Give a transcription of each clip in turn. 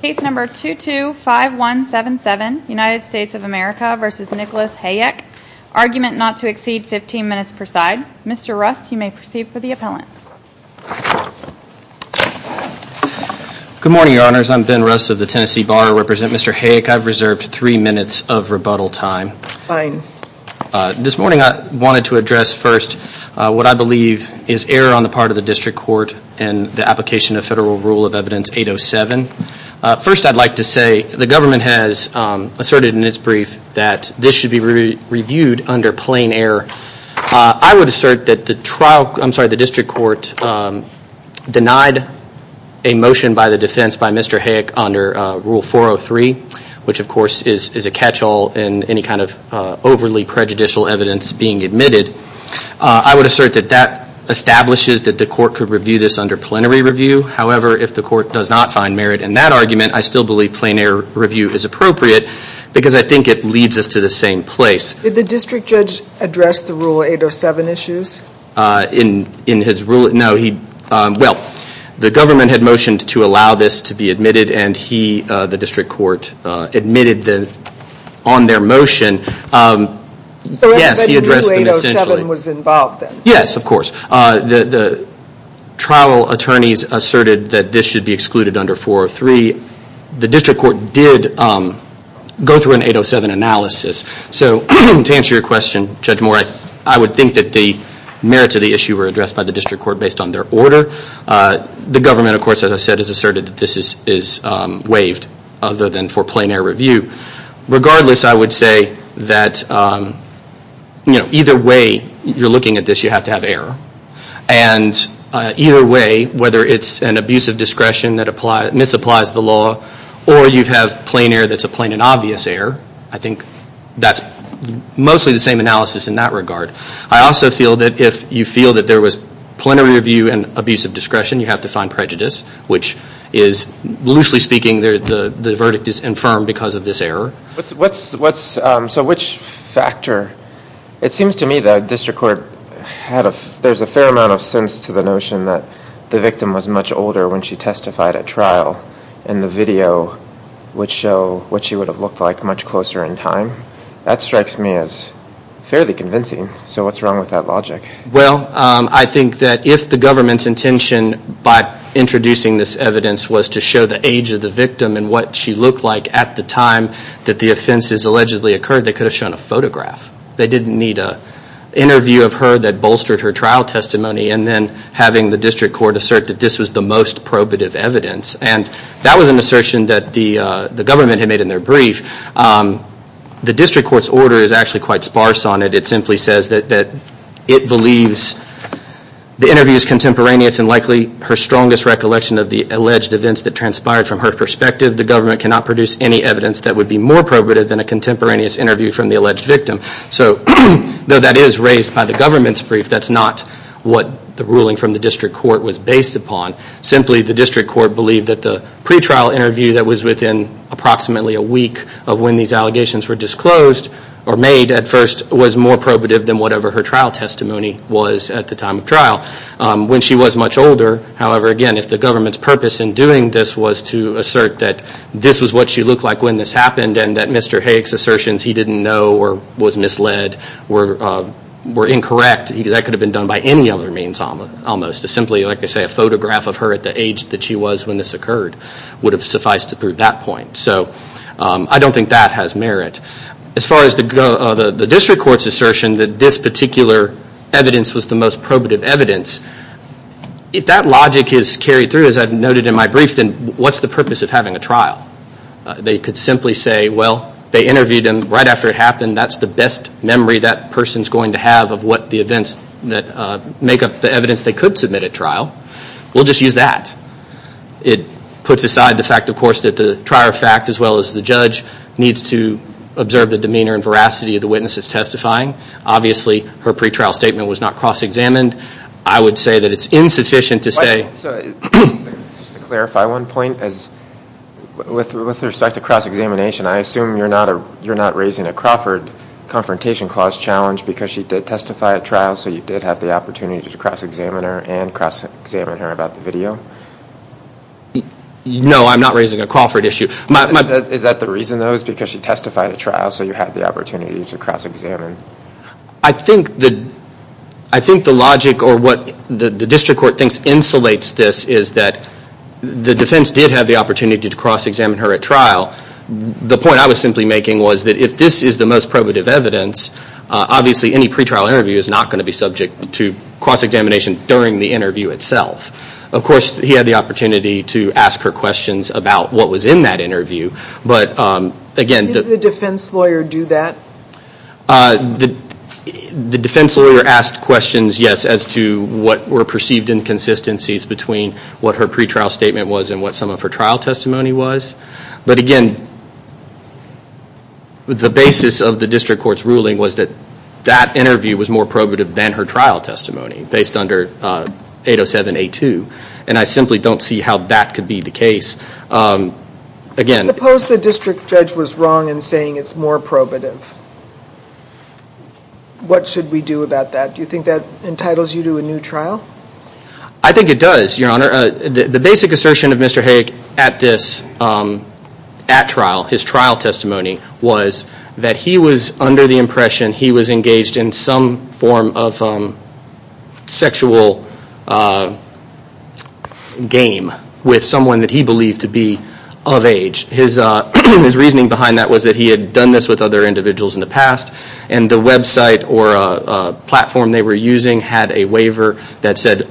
Case number 225177, United States of America v. Nicholas Hayek. Argument not to exceed 15 minutes per side. Mr. Russ, you may proceed for the appellant. Good morning, Your Honors. I'm Ben Russ of the Tennessee Bar. I represent Mr. Hayek. I've reserved three minutes of rebuttal time. Fine. This morning I wanted to address first what I believe is error on the part of the District Court in the application of Federal Rule of Evidence 807. First, I'd like to say the government has asserted in its brief that this should be reviewed under plain error. I would assert that the trial, I'm sorry, the District Court denied a motion by the defense by Mr. Hayek under Rule 403, which of course is a catch-all in any kind of overly prejudicial evidence being admitted. I would assert that that establishes that the court could review this under plenary review. However, if the court does not find merit in that argument, I still believe plenary review is appropriate because I think it leads us to the same place. Did the District Judge address the Rule 807 issues? In his Rule, no. Well, the government had motioned to allow this to be admitted and he, the District Court, admitted on their motion. Yes, he addressed them essentially. No one was involved then? Yes, of course. The trial attorneys asserted that this should be excluded under 403. The District Court did go through an 807 analysis. To answer your question, Judge Moore, I would think that the merits of the issue were addressed by the District Court based on their order. The government, of course, as I said, has asserted that this is waived other than for plenary review. Regardless, I would say that either way you're looking at this, you have to have error. Either way, whether it's an abuse of discretion that misapplies the law or you have plain error that's a plain and obvious error, I think that's mostly the same analysis in that regard. I also feel that if you feel that there was plenary review and abuse of discretion, you have to find prejudice, which is, loosely speaking, the verdict is infirm because of this error. So which factor? It seems to me that the District Court, there's a fair amount of sense to the notion that the victim was much older when she testified at trial and the video would show what she would have looked like much closer in time. That strikes me as fairly convincing. So what's wrong with that logic? Well, I think that if the government's intention by introducing this evidence was to show the age of the victim and what she looked like at the time that the offenses allegedly occurred, they could have shown a photograph. They didn't need an interview of her that bolstered her trial testimony and then having the District Court assert that this was the most probative evidence. And that was an assertion that the government had made in their brief. The District Court's order is actually quite sparse on it. It simply says that it believes the interview is contemporaneous and likely her strongest recollection of the alleged events that transpired from her perspective. The government cannot produce any evidence that would be more probative than a contemporaneous interview from the alleged victim. So, though that is raised by the government's brief, that's not what the ruling from the District Court was based upon. Simply, the District Court believed that the pretrial interview that was within approximately a week of when these allegations were disclosed or made at first was more probative than whatever her trial testimony was at the time of trial. When she was much older, however, again, if the government's purpose in doing this was to assert that this was what she looked like when this happened and that Mr. Hayek's assertions he didn't know or was misled were incorrect, that could have been done by any other means almost. Simply, like I say, a photograph of her at the age that she was when this occurred would have sufficed to prove that point. So, I don't think that has merit. As far as the District Court's assertion that this particular evidence was the most probative evidence, if that logic is carried through, as I've noted in my brief, then what's the purpose of having a trial? They could simply say, well, they interviewed him right after it happened. That's the best memory that person's going to have of what the events that make up the evidence they could submit at trial. We'll just use that. It puts aside the fact, of course, that the trier of fact as well as the judge needs to observe the demeanor and veracity of the witness that's testifying. Obviously, her pretrial statement was not cross-examined. I would say that it's insufficient to say... Just to clarify one point, with respect to cross-examination, I assume you're not raising a Crawford Confrontation Clause challenge because she did testify at trial, so you did have the opportunity to cross-examine her and cross-examine her about the video? No, I'm not raising a Crawford issue. Is that the reason, though, because she testified at trial, so you had the opportunity to cross-examine? I think the logic or what the district court thinks insulates this is that the defense did have the opportunity to cross-examine her at trial. The point I was simply making was that if this is the most probative evidence, obviously any pretrial interview is not going to be subject to cross-examination during the interview itself. Of course, he had the opportunity to ask her questions about what was in that interview, but again... Did the defense lawyer do that? The defense lawyer asked questions, yes, as to what were perceived inconsistencies between what her pretrial statement was and what some of her trial testimony was, but again, the basis of the district court's ruling was that that interview was more probative than her trial testimony, based under 807A2, and I simply don't see how that could be the case. Suppose the district judge was wrong in saying it's more probative. What should we do about that? Do you think that entitles you to a new trial? I think it does, Your Honor. The basic assertion of Mr. Hayek at this, at trial, his trial testimony was that he was under the impression he was engaged in some form of sexual game with someone that he believed to be of age. His reasoning behind that was that he had done this with other individuals in the past, and the website or platform they were using had a waiver that said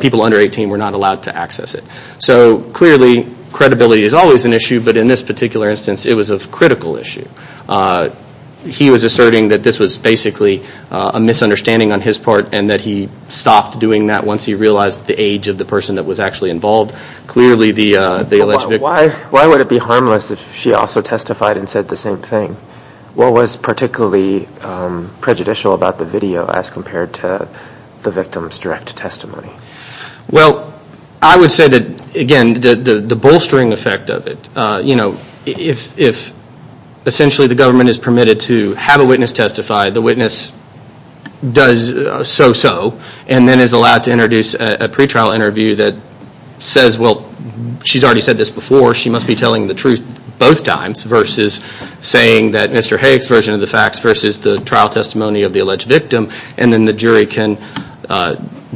people under 18 were not allowed to access it. So clearly, credibility is always an issue, but in this particular instance, it was a critical issue. He was asserting that this was basically a misunderstanding on his part, and that he stopped doing that once he realized the age of the person that was actually involved. Why would it be harmless if she also testified and said the same thing? What was particularly prejudicial about the video as compared to the victim's direct testimony? I would say that, again, the bolstering effect of it, if essentially the government is permitted to have a witness testify, the witness does so-so, and then is allowed to introduce a pretrial interview that says, well, she's already said this before, she must be telling the truth both times, versus saying that Mr. Hayek's version of the facts versus the trial testimony of the alleged victim, and then the jury can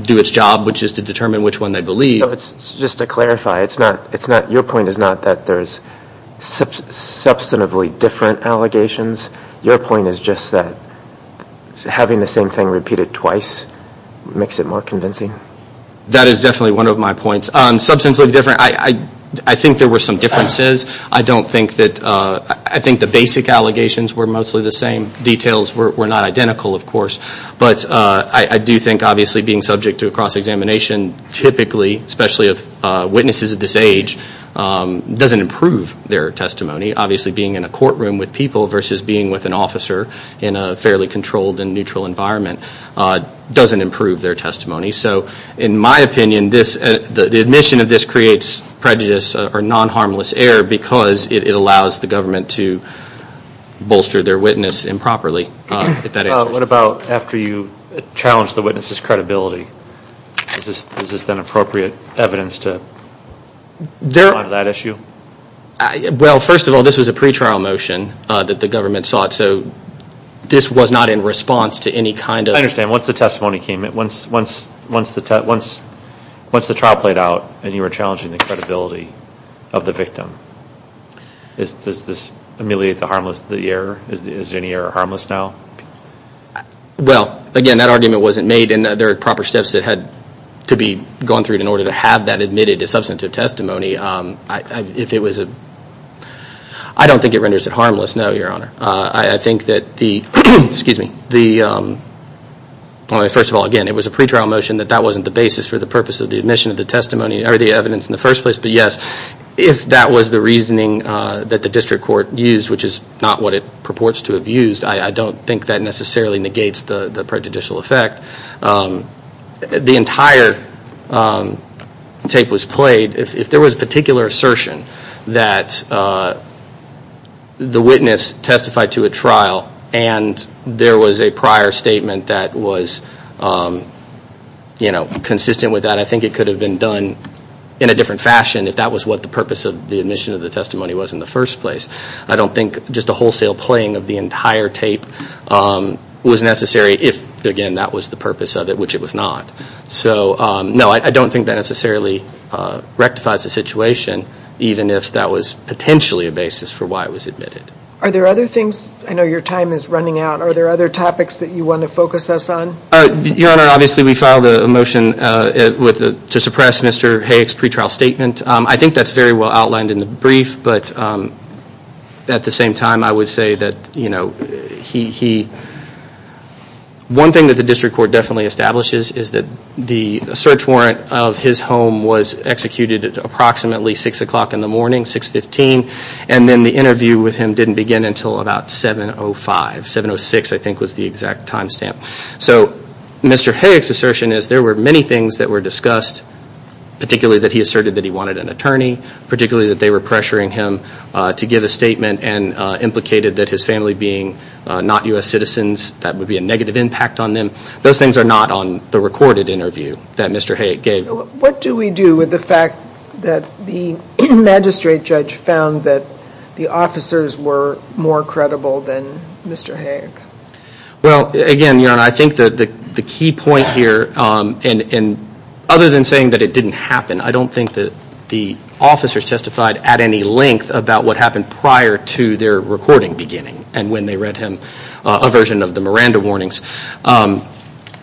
do its job, which is to determine which one they believe. Just to clarify, your point is not that there's substantively different allegations. Your point is just that having the same thing repeated twice makes it more convincing? That is definitely one of my points. Substantively different, I think there were some differences. I don't think that, I think the basic allegations were mostly the same. Details were not identical, of course, but I do think, obviously, being subject to a cross-examination, typically, especially of witnesses of this age, doesn't improve their testimony. Obviously, being in a courtroom with people versus being with an officer in a fairly controlled and neutral environment doesn't improve their testimony. So, in my opinion, the admission of this creates prejudice or non-harmless error because it allows the government to bolster their witness improperly. What about after you challenged the witness's credibility? Is this then appropriate evidence to respond to that issue? Well, first of all, this was a pre-trial motion that the government sought, so this was not in response to any kind of... I understand. Once the testimony came, once the trial played out and you were challenging the credibility of the victim, does this ameliorate the harmless, the error? Is any error harmless now? Well, again, that argument wasn't made and there are proper steps that had to be gone through in order to have that admitted as substantive testimony. If it was a... I don't think it renders it harmless, no, Your Honor. I think that the, excuse me, the... First of all, again, it was a pre-trial motion that that wasn't the basis for the purpose of the admission of the testimony or the evidence in the first place, but yes, if that was the reasoning that the district court used, which is not what it purports to have used, I don't think that necessarily negates the prejudicial effect. The entire tape was played. If there was a particular assertion that the witness testified to a trial and there was a prior statement that was consistent with that, I think it could have been done in a different fashion if that was what the purpose of the admission of the testimony was in the first place. I don't think just a wholesale playing of the entire tape was necessary if, again, that was the purpose of it, which it was not. So, no, I don't think that necessarily rectifies the situation, even if that was potentially a basis for why it was admitted. Are there other things? I know your time is running out. Are there other topics that you want to focus us on? Your Honor, obviously we filed a motion to suppress Mr. Hayek's pretrial statement. I think that's very well outlined in the brief, but at the same time I would say that he, one thing that the district court definitely establishes is that the search warrant of his home was executed at approximately 6 o'clock in the morning, 6.15, and then the interview with him didn't begin until about 7.05, 7.06 I think was the exact time stamp. So Mr. Hayek's assertion is there were many things that were discussed, particularly that he asserted that he wanted an attorney, particularly that they were pressuring him to give a statement and implicated that his family being not U.S. citizens, that would be a negative impact on them. Those things are not on the recorded interview that Mr. Hayek gave. What do we do with the fact that the magistrate judge found that the officers were more credible than Mr. Hayek? Well, again, Your Honor, I think that the key point here, and other than saying that it didn't happen, I don't think that the officers testified at any length about what happened prior to their recording beginning and when they read him a version of the Miranda warnings.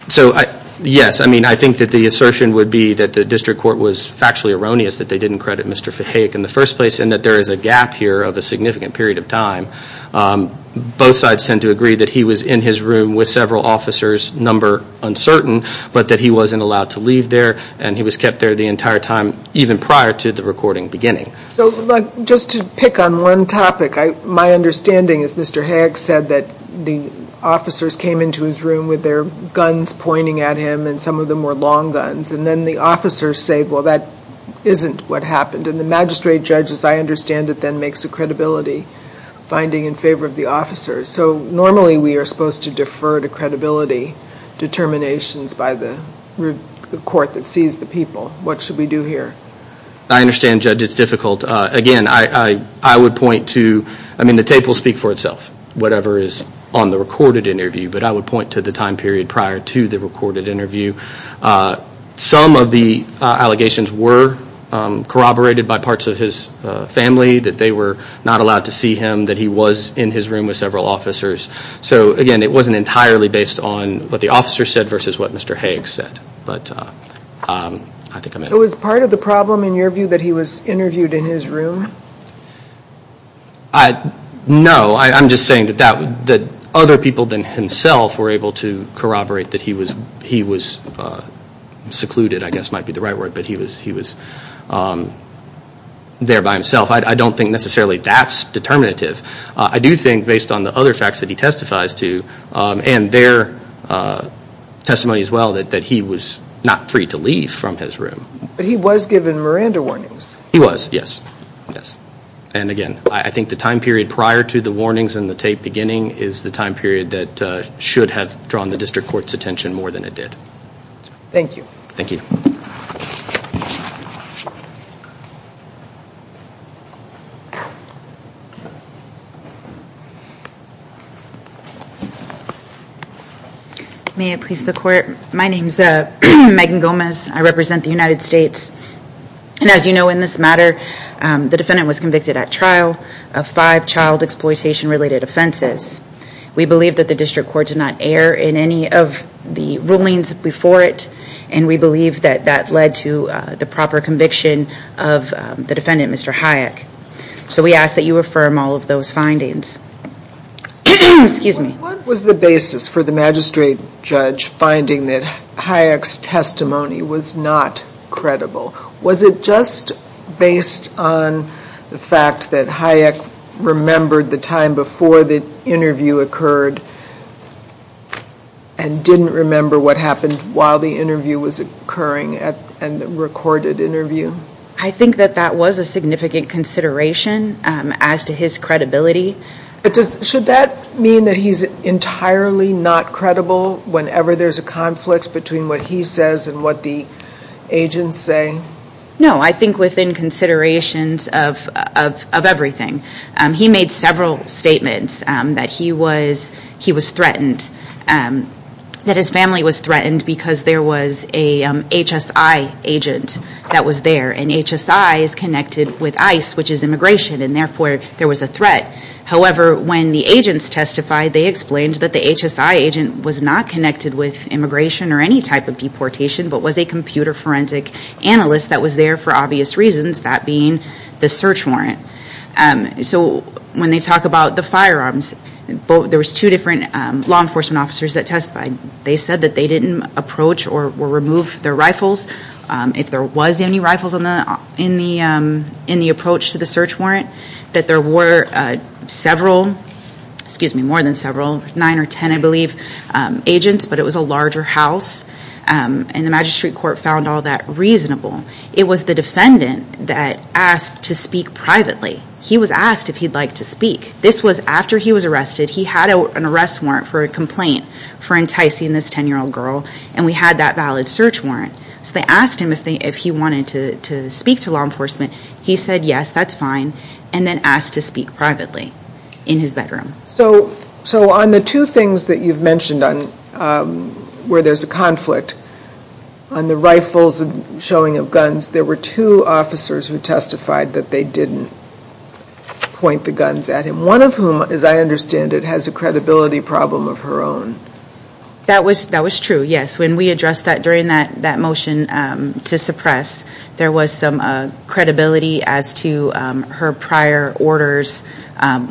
So, yes, I think that the assertion would be that the district court was factually erroneous that they didn't credit Mr. Hayek in the first place and that there is a gap here of a significant period of time. Both sides tend to agree that he was in his room with several officers, number uncertain, but that he wasn't allowed to leave there and he was kept there the entire time even prior to the recording beginning. So just to pick on one topic, my understanding is Mr. Hayek said that the officers came into his room with their guns pointing at him, and some of them were long guns, and then the officers say, well, that isn't what happened. And the magistrate judge, as I understand it, then makes a credibility finding in favor of the officers. So normally we are supposed to defer to credibility determinations by the court that sees the people. What should we do here? I understand, Judge, it's difficult. Again, I would point to, I mean, the tape will speak for itself, whatever is on the recorded interview, but I would point to the time period prior to the recorded interview. Some of the allegations were corroborated by parts of his family, that they were not allowed to see him, that he was in his room with several officers. So again, it wasn't entirely based on what the officers said versus what Mr. Hayek said. But I think I'm... So was part of the problem, in your view, that he was interviewed in his room? No. I'm just saying that other people than himself were able to corroborate that he was secluded, I guess might be the right word, but he was there by himself. I don't think necessarily that's determinative. I do think, based on the other facts that he testifies to and their testimony as well, that he was not free to leave from his room. But he was given Miranda warnings. He was, yes. Yes. And again, I think the time period prior to the warnings and the tape beginning is the time period that should have drawn the district court's attention more than it did. Thank you. Thank you. May it please the court. My name's Megan Gomez. I represent the United States. And as you know, in this matter, the defendant was convicted at trial of five child exploitation-related offenses. We believe that the district court did not err in any of the rulings before it. And we believe that that led to the proper conviction of the defendant, Mr. Hayek. So we ask that you affirm all of those findings. Excuse me. What was the basis for the magistrate judge finding that Hayek's testimony was not credible? Was it just based on the fact that Hayek remembered the time before the interview occurred and didn't remember what happened while the interview was occurring and the recorded interview? I think that that was a significant consideration as to his credibility. But should that mean that he's entirely not credible whenever there's a conflict between what he says and what the agents say? No. I think within considerations of everything. He made several statements that he was threatened, that his family was threatened because there was a HSI agent that was there. And HSI is connected with ICE, which is immigration, and therefore there was a threat. However, when the agents testified, they explained that the HSI agent was not connected with immigration or any type of deportation, but was a computer forensic analyst that was there for obvious reasons, that being the search warrant. So when they talk about the firearms, there was two different law enforcement officers that testified. They said that they didn't approach or remove their rifles, if there was any rifles in the approach to the search warrant, that there were several, excuse me, more than several, nine or ten, I believe, agents, but it was a larger house. And the magistrate court found all that reasonable. It was the defendant that asked to speak privately. He was asked if he'd like to speak. This was after he was arrested. He had an arrest warrant for a complaint for enticing this 10-year-old girl, and we had that valid search warrant. So they asked him if he wanted to speak to law enforcement. He said, yes, that's fine, and then asked to speak privately in his bedroom. So on the two things that you've mentioned where there's a conflict, on the rifles and showing of guns, there were two officers who testified that they didn't point the guns at him, one of whom, as I understand it, has a credibility problem of her own. That was true, yes. When we addressed that during that motion to suppress, there was some credibility as to her prior orders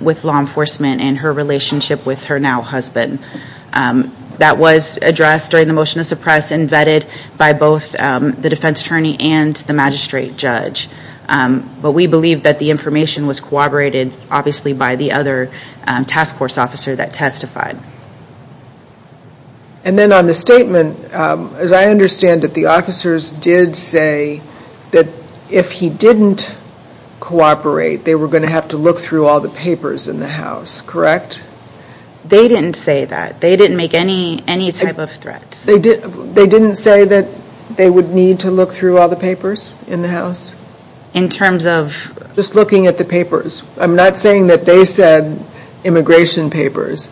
with law enforcement and her relationship with her now husband. That was addressed during the motion to suppress and vetted by both the defense attorney and the magistrate judge. But we believe that the information was corroborated, obviously, by the other task force officer that testified. And then on the statement, as I understand it, the officers did say that if he didn't cooperate, they were going to have to look through all the papers in the house, correct? They didn't say that. They didn't make any type of threats. They didn't say that they would need to look through all the papers in the house? In terms of? Just looking at the papers. I'm not saying that they said immigration papers.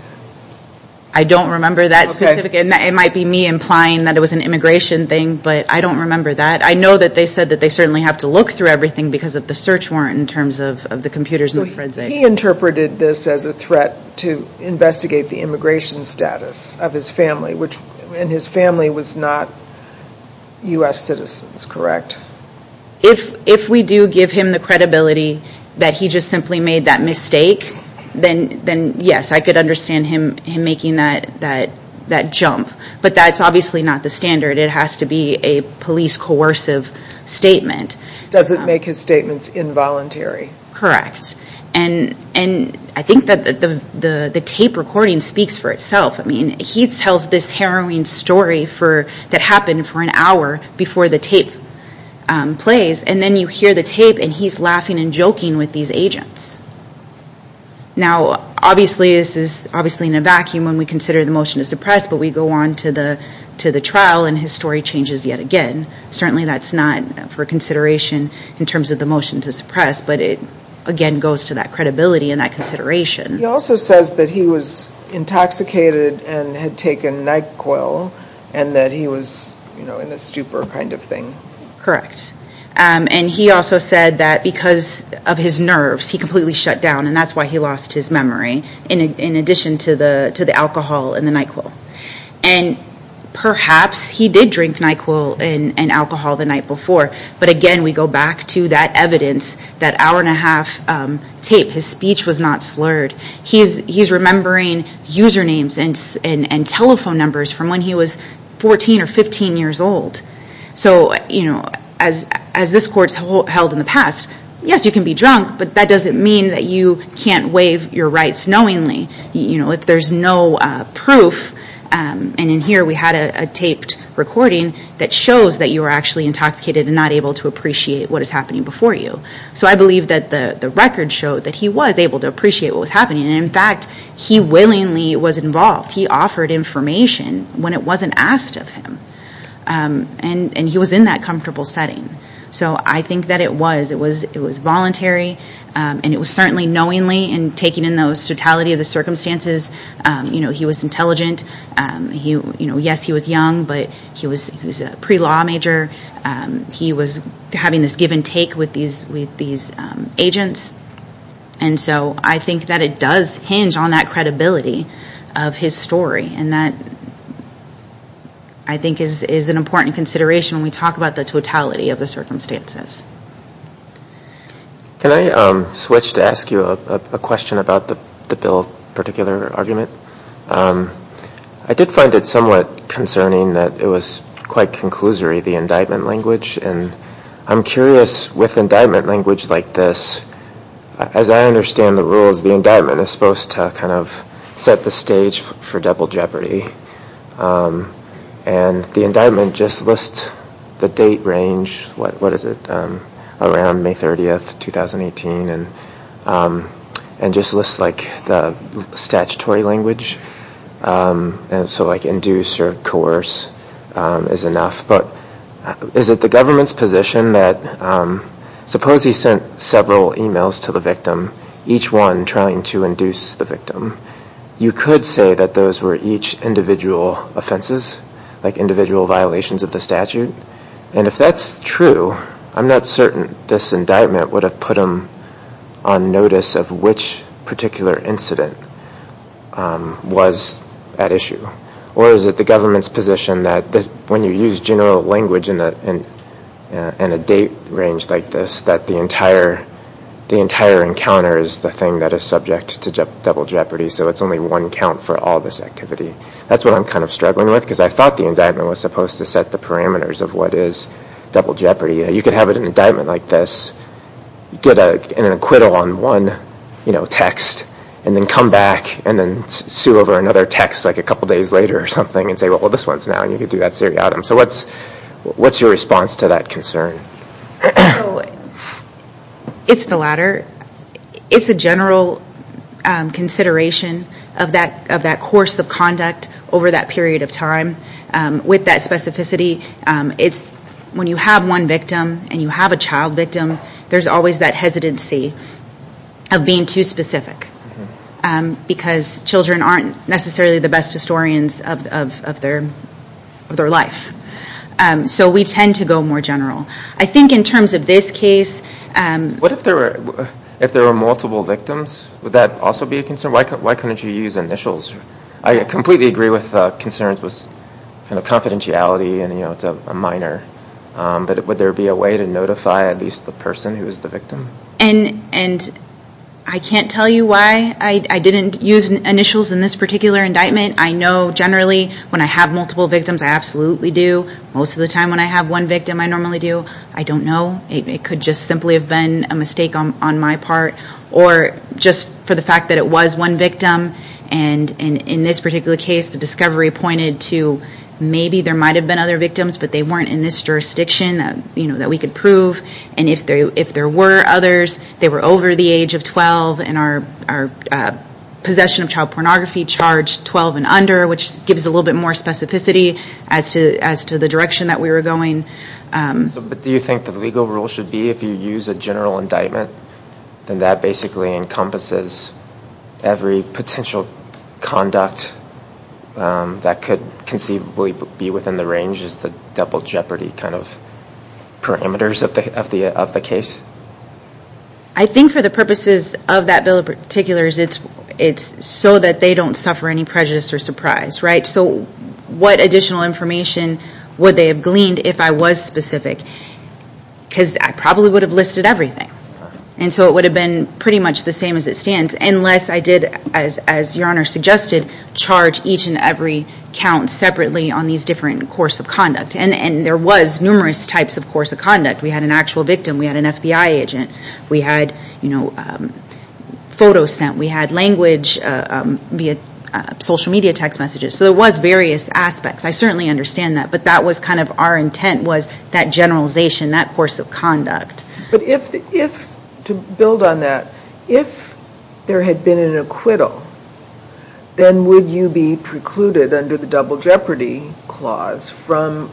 I don't remember that. It might be me implying that it was an immigration thing, but I don't remember that. I know that they said that they certainly have to look through everything because of the search warrant in terms of the computers and the forensics. He interpreted this as a threat to investigate the immigration status of his family, and his family was not U.S. citizens, correct? If we do give him the credibility that he just simply made that mistake, then yes, I could understand him making that jump. But that's obviously not the standard. It has to be a police coercive statement. Does it make his statements involuntary? Correct. And I think that the tape recording speaks for itself. He tells this harrowing story that happened for an hour before the tape plays, and then you hear the tape and he's laughing and joking with these agents. Now obviously this is in a vacuum when we consider the motion to suppress, but we go on to the trial and his story changes yet again. Certainly that's not for consideration in terms of the motion to suppress, but it again goes to that credibility and that consideration. He also says that he was intoxicated and had taken NyQuil and that he was in a stupor kind of thing. Correct. And he also said that because of his nerves, he completely shut down and that's why he lost his memory, in addition to the alcohol and the NyQuil. And perhaps he did drink NyQuil and alcohol the night before, but again we go back to that evidence, that hour and a half tape, his speech was not slurred. He's remembering usernames and telephone numbers from when he was 14 or 15 years old. So as this court's held in the past, yes you can be drunk, but that doesn't mean that you can't waive your rights knowingly. If there's no proof, and in here we had a taped recording that shows that you were actually intoxicated and not able to appreciate what was happening before you. So I believe that the record showed that he was able to appreciate what was happening and in fact he willingly was involved. He offered information when it wasn't asked of him. And he was in that comfortable setting. So I think that it was, it was voluntary and it was certainly knowingly and taking in the totality of the circumstances. He was intelligent, yes he was young, but he was a pre-law major. He was having this give and take with these agents. And so I think that it does hinge on that credibility of his story and that I think is an important consideration when we talk about the totality of the circumstances. Can I switch to ask you a question about the bill particular argument? I did find it somewhat concerning that it was quite conclusory, the indictment language. And I'm curious with indictment language like this, as I understand the rules, the indictment is supposed to kind of set the stage for double jeopardy. And the indictment just lists the date range, what is it, around May 30th, 2018, and just lists like the statutory language. And so like induce or coerce is enough. But is it the government's position that, suppose he sent several emails to the victim, each one trying to induce the victim, you could say that those were each individual offenses, like individual violations of the statute. And if that's true, I'm not certain this indictment would have put him on notice of which particular incident was at issue. Or is it the government's position that when you use general language in a date range like this, that the entire encounter is the thing that is subject to double jeopardy, so it's only one count for all this activity. That's what I'm kind of struggling with, because I thought the indictment was supposed to set the parameters of what is double jeopardy. You could have an indictment like this, get an acquittal on one text, and then come back and then sue over another text like a couple days later or something and say, well, this one's now, and you could do that seriatim. So what's your response to that concern? It's the latter. It's a general consideration of that course of conduct over that period of time. With that specificity, it's when you have one victim and you have a child victim, there's always that hesitancy of being too specific, because children aren't necessarily the best historians of their life. So we tend to go more general. I think in terms of this case... What if there were multiple victims? Would that also be a concern? Why couldn't you use initials? I completely agree with concerns with confidentiality, and it's a minor, but would there be a way to notify at least the person who was the victim? I can't tell you why I didn't use initials in this particular indictment. I know generally when I have multiple victims, I absolutely do. Most of the time when I have one victim, I normally do. I don't know. It could just simply have been a mistake on my part, or just for the fact that it was one victim. In this particular case, the discovery pointed to maybe there might have been other victims, but they weren't in this jurisdiction that we could prove. If there were others, they were over the age of 12, and our possession of child pornography charged 12 and under, which gives a little bit more specificity as to the direction that we were going. Do you think the legal rule should be if you use a general indictment, then that basically encompasses every potential conduct that could conceivably be within the range as the double jeopardy kind of parameters of the case? I think for the purposes of that bill in particular, it's so that they don't suffer any prejudice or surprise. What additional information would they have gleaned if I was specific? I probably would have listed everything. It would have been pretty much the same as it stands, unless I did, as Your Honor suggested, charge each and every count separately on these different course of conduct. There was numerous types of course of conduct. We had an actual victim. We had an FBI agent. We had photos sent. We had language via social media text messages. There was various aspects. I certainly understand that, but that was kind of our intent was that generalization, that course of conduct. To build on that, if there had been an acquittal, then would you be precluded under the double jeopardy clause from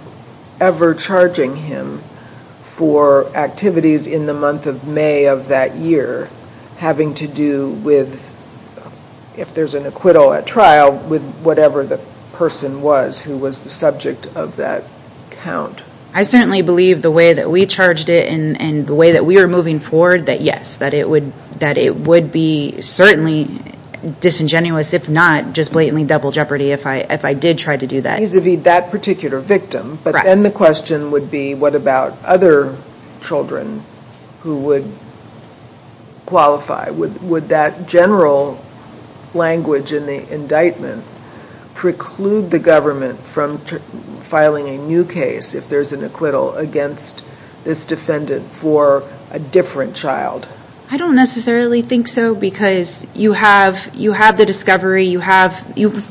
ever charging him for activities in the month of May of that year having to do with, if there's an acquittal at trial, with whatever the person was who was the subject of that count? I certainly believe the way that we charged it and the way that we were moving forward that yes, that it would be certainly disingenuous, if not just blatantly double jeopardy, if I did try to do that. Vis-a-vis that particular victim, but then the question would be, what about other children who would qualify? Would that general language in the indictment preclude the government from filing a new case if there's an acquittal against this defendant for a different child? I don't necessarily think so because you have the discovery. You've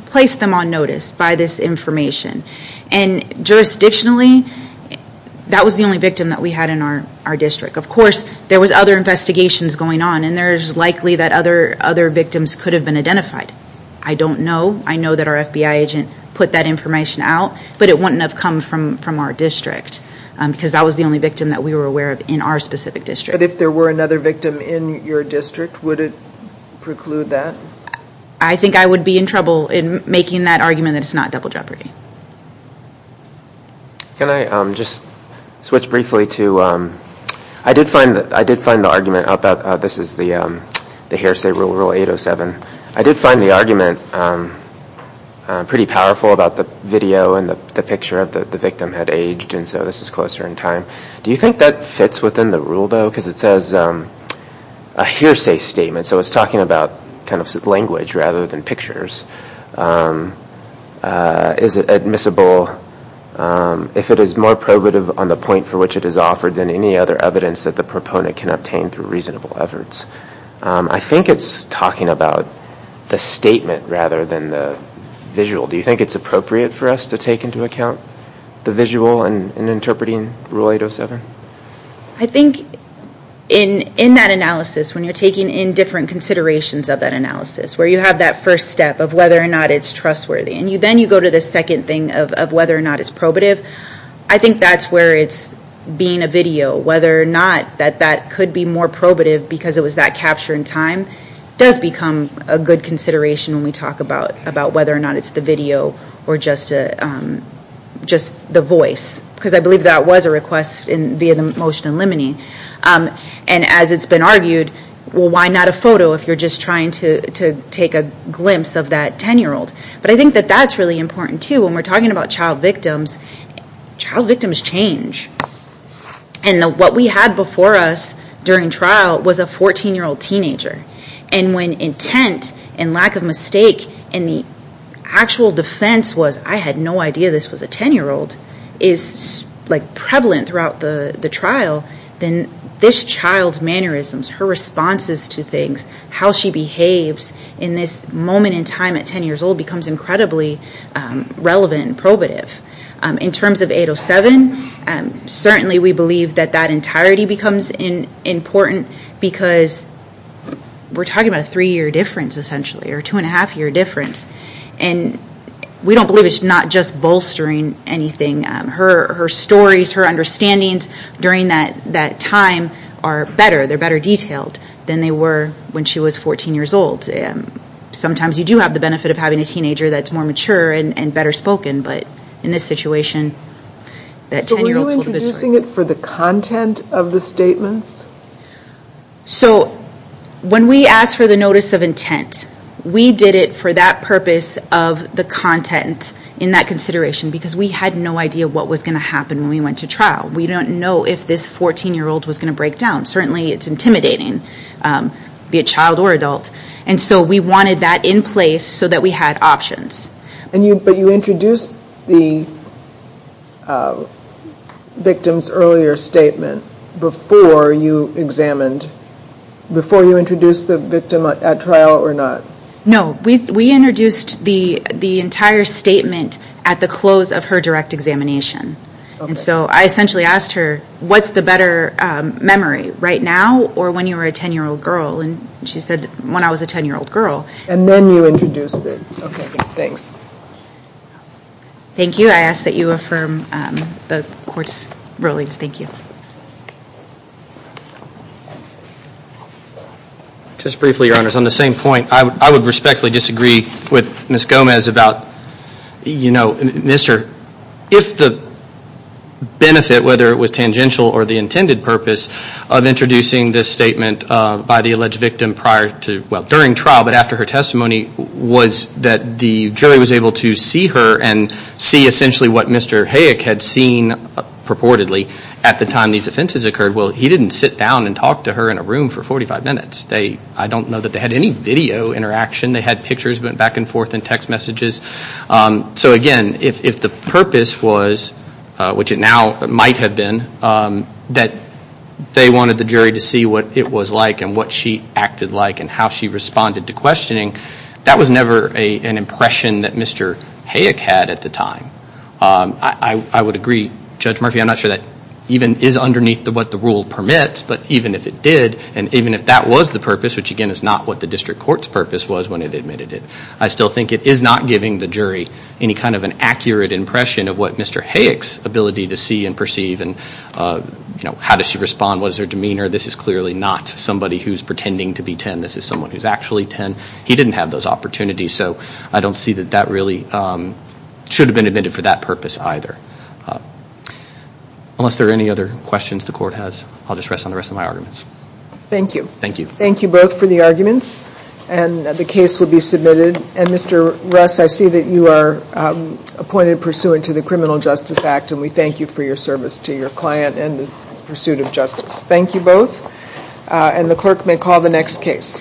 placed them on notice by this information. Jurisdictionally, that was the only victim that we had in our district. Of course, there was other investigations going on, and there's likely that other victims could have been identified. I don't know. I know that our FBI agent put that information out, but it wouldn't have come from our district because that was the only victim that we were aware of in our specific district. If there were another victim in your district, would it preclude that? I think I would be in trouble in making that argument that it's not double jeopardy. Can I just switch briefly to... I did find the argument about... This is the Harris State Rule, Rule 807. I did find the argument pretty powerful about the video and the picture of the victim had aged, and so this is closer in time. Do you think that fits within the rule, though? Because it says a hearsay statement, so it's talking about language rather than pictures. Is it admissible if it is more probative on the point for which it is offered than any other evidence that the proponent can obtain through reasonable efforts? I think it's talking about the statement rather than the visual. Do you think it's appropriate for us to take into account the visual in interpreting Rule 807? I think in that analysis, when you're taking in different considerations of that analysis, where you have that first step of whether or not it's trustworthy, and then you go to the second thing of whether or not it's probative, I think that's where it's being a video. Whether or not that that could be more probative because it was that capture in time does become a good consideration when we talk about whether or not it's the video or just the voice, because I believe that was a request via the motion in limine. And as it's been argued, well, why not a photo if you're just trying to take a glimpse of that 10-year-old? But I think that that's really important, too. When we're talking about child victims, child victims change. And what we had before us during trial was a 14-year-old teenager. And when intent and lack of mistake and the actual defense was, I had no idea this was a 10-year-old, is prevalent throughout the trial, then this child's mannerisms, her responses to things, how she behaves in this moment in time at 10 years old becomes incredibly relevant and probative. In terms of 807, certainly we believe that that entirety becomes important because we're talking about a three-year difference, essentially, or a two-and-a-half-year difference. And we don't believe it's not just bolstering anything. Her stories, her understandings during that time are better. They're better detailed than they were when she was 14 years old. Sometimes you do have the benefit of having a teenager that's more mature and better spoken, but in this situation, that 10-year-old's a little bit stronger. So were you introducing it for the content of the statements? So when we asked for the notice of intent, we did it for that purpose of the content in that consideration because we had no idea what was going to happen when we went to trial. We don't know if this 14-year-old was going to break down. Certainly, it's intimidating, be it child or adult. And so we wanted that in place so that we had options. But you introduced the victim's earlier statement before you examined, before you introduced the victim at trial or not? No. We introduced the entire statement at the close of her direct examination. And so I essentially asked her, what's the better memory, right now or when you were a 10-year-old girl? And she said, when I was a 10-year-old girl. And then you introduced it. Okay, thanks. Thank you. I ask that you affirm the court's rulings. Thank you. Just briefly, Your Honors, on the same point, I would respectfully disagree with Ms. Gomez about, you know, Mr., if the benefit, whether it was tangential or the intended purpose of introducing this statement by the alleged victim prior to, well, during trial, but after her testimony, was that the jury was able to see her and see essentially what Mr. Hayek had seen purportedly at the time these offenses occurred. Well, he didn't sit down and talk to her in a room for 45 minutes. I don't know that they had any video interaction. They had pictures, went back and forth in text messages. So again, if the purpose was, which it now might have been, that they wanted the jury to see what it was like and what she acted like and how she responded to questioning, that was never an impression that Mr. Hayek had at the time. I would agree, Judge Murphy, I'm not sure that even is underneath what the rule permits, but even if it did, and even if that was the purpose, which again is not what the district court's purpose was when it admitted it, I still think it is not giving the jury any kind of an accurate impression of what Mr. Hayek's ability to see and perceive and, you know, how does she respond, what is her demeanor. This is clearly not somebody who's pretending to be 10. This is someone who's actually 10. He didn't have those opportunities. So I don't see that that really should have been admitted for that purpose either. Unless there are any other questions the court has, I'll just rest on the rest of my arguments. Thank you. Thank you. Thank you both for the arguments and the case will be submitted. And Mr. Russ, I see that you are appointed pursuant to the Criminal Justice Act and we thank you for your service to your client and the pursuit of justice. Thank you both and the clerk may call the next case.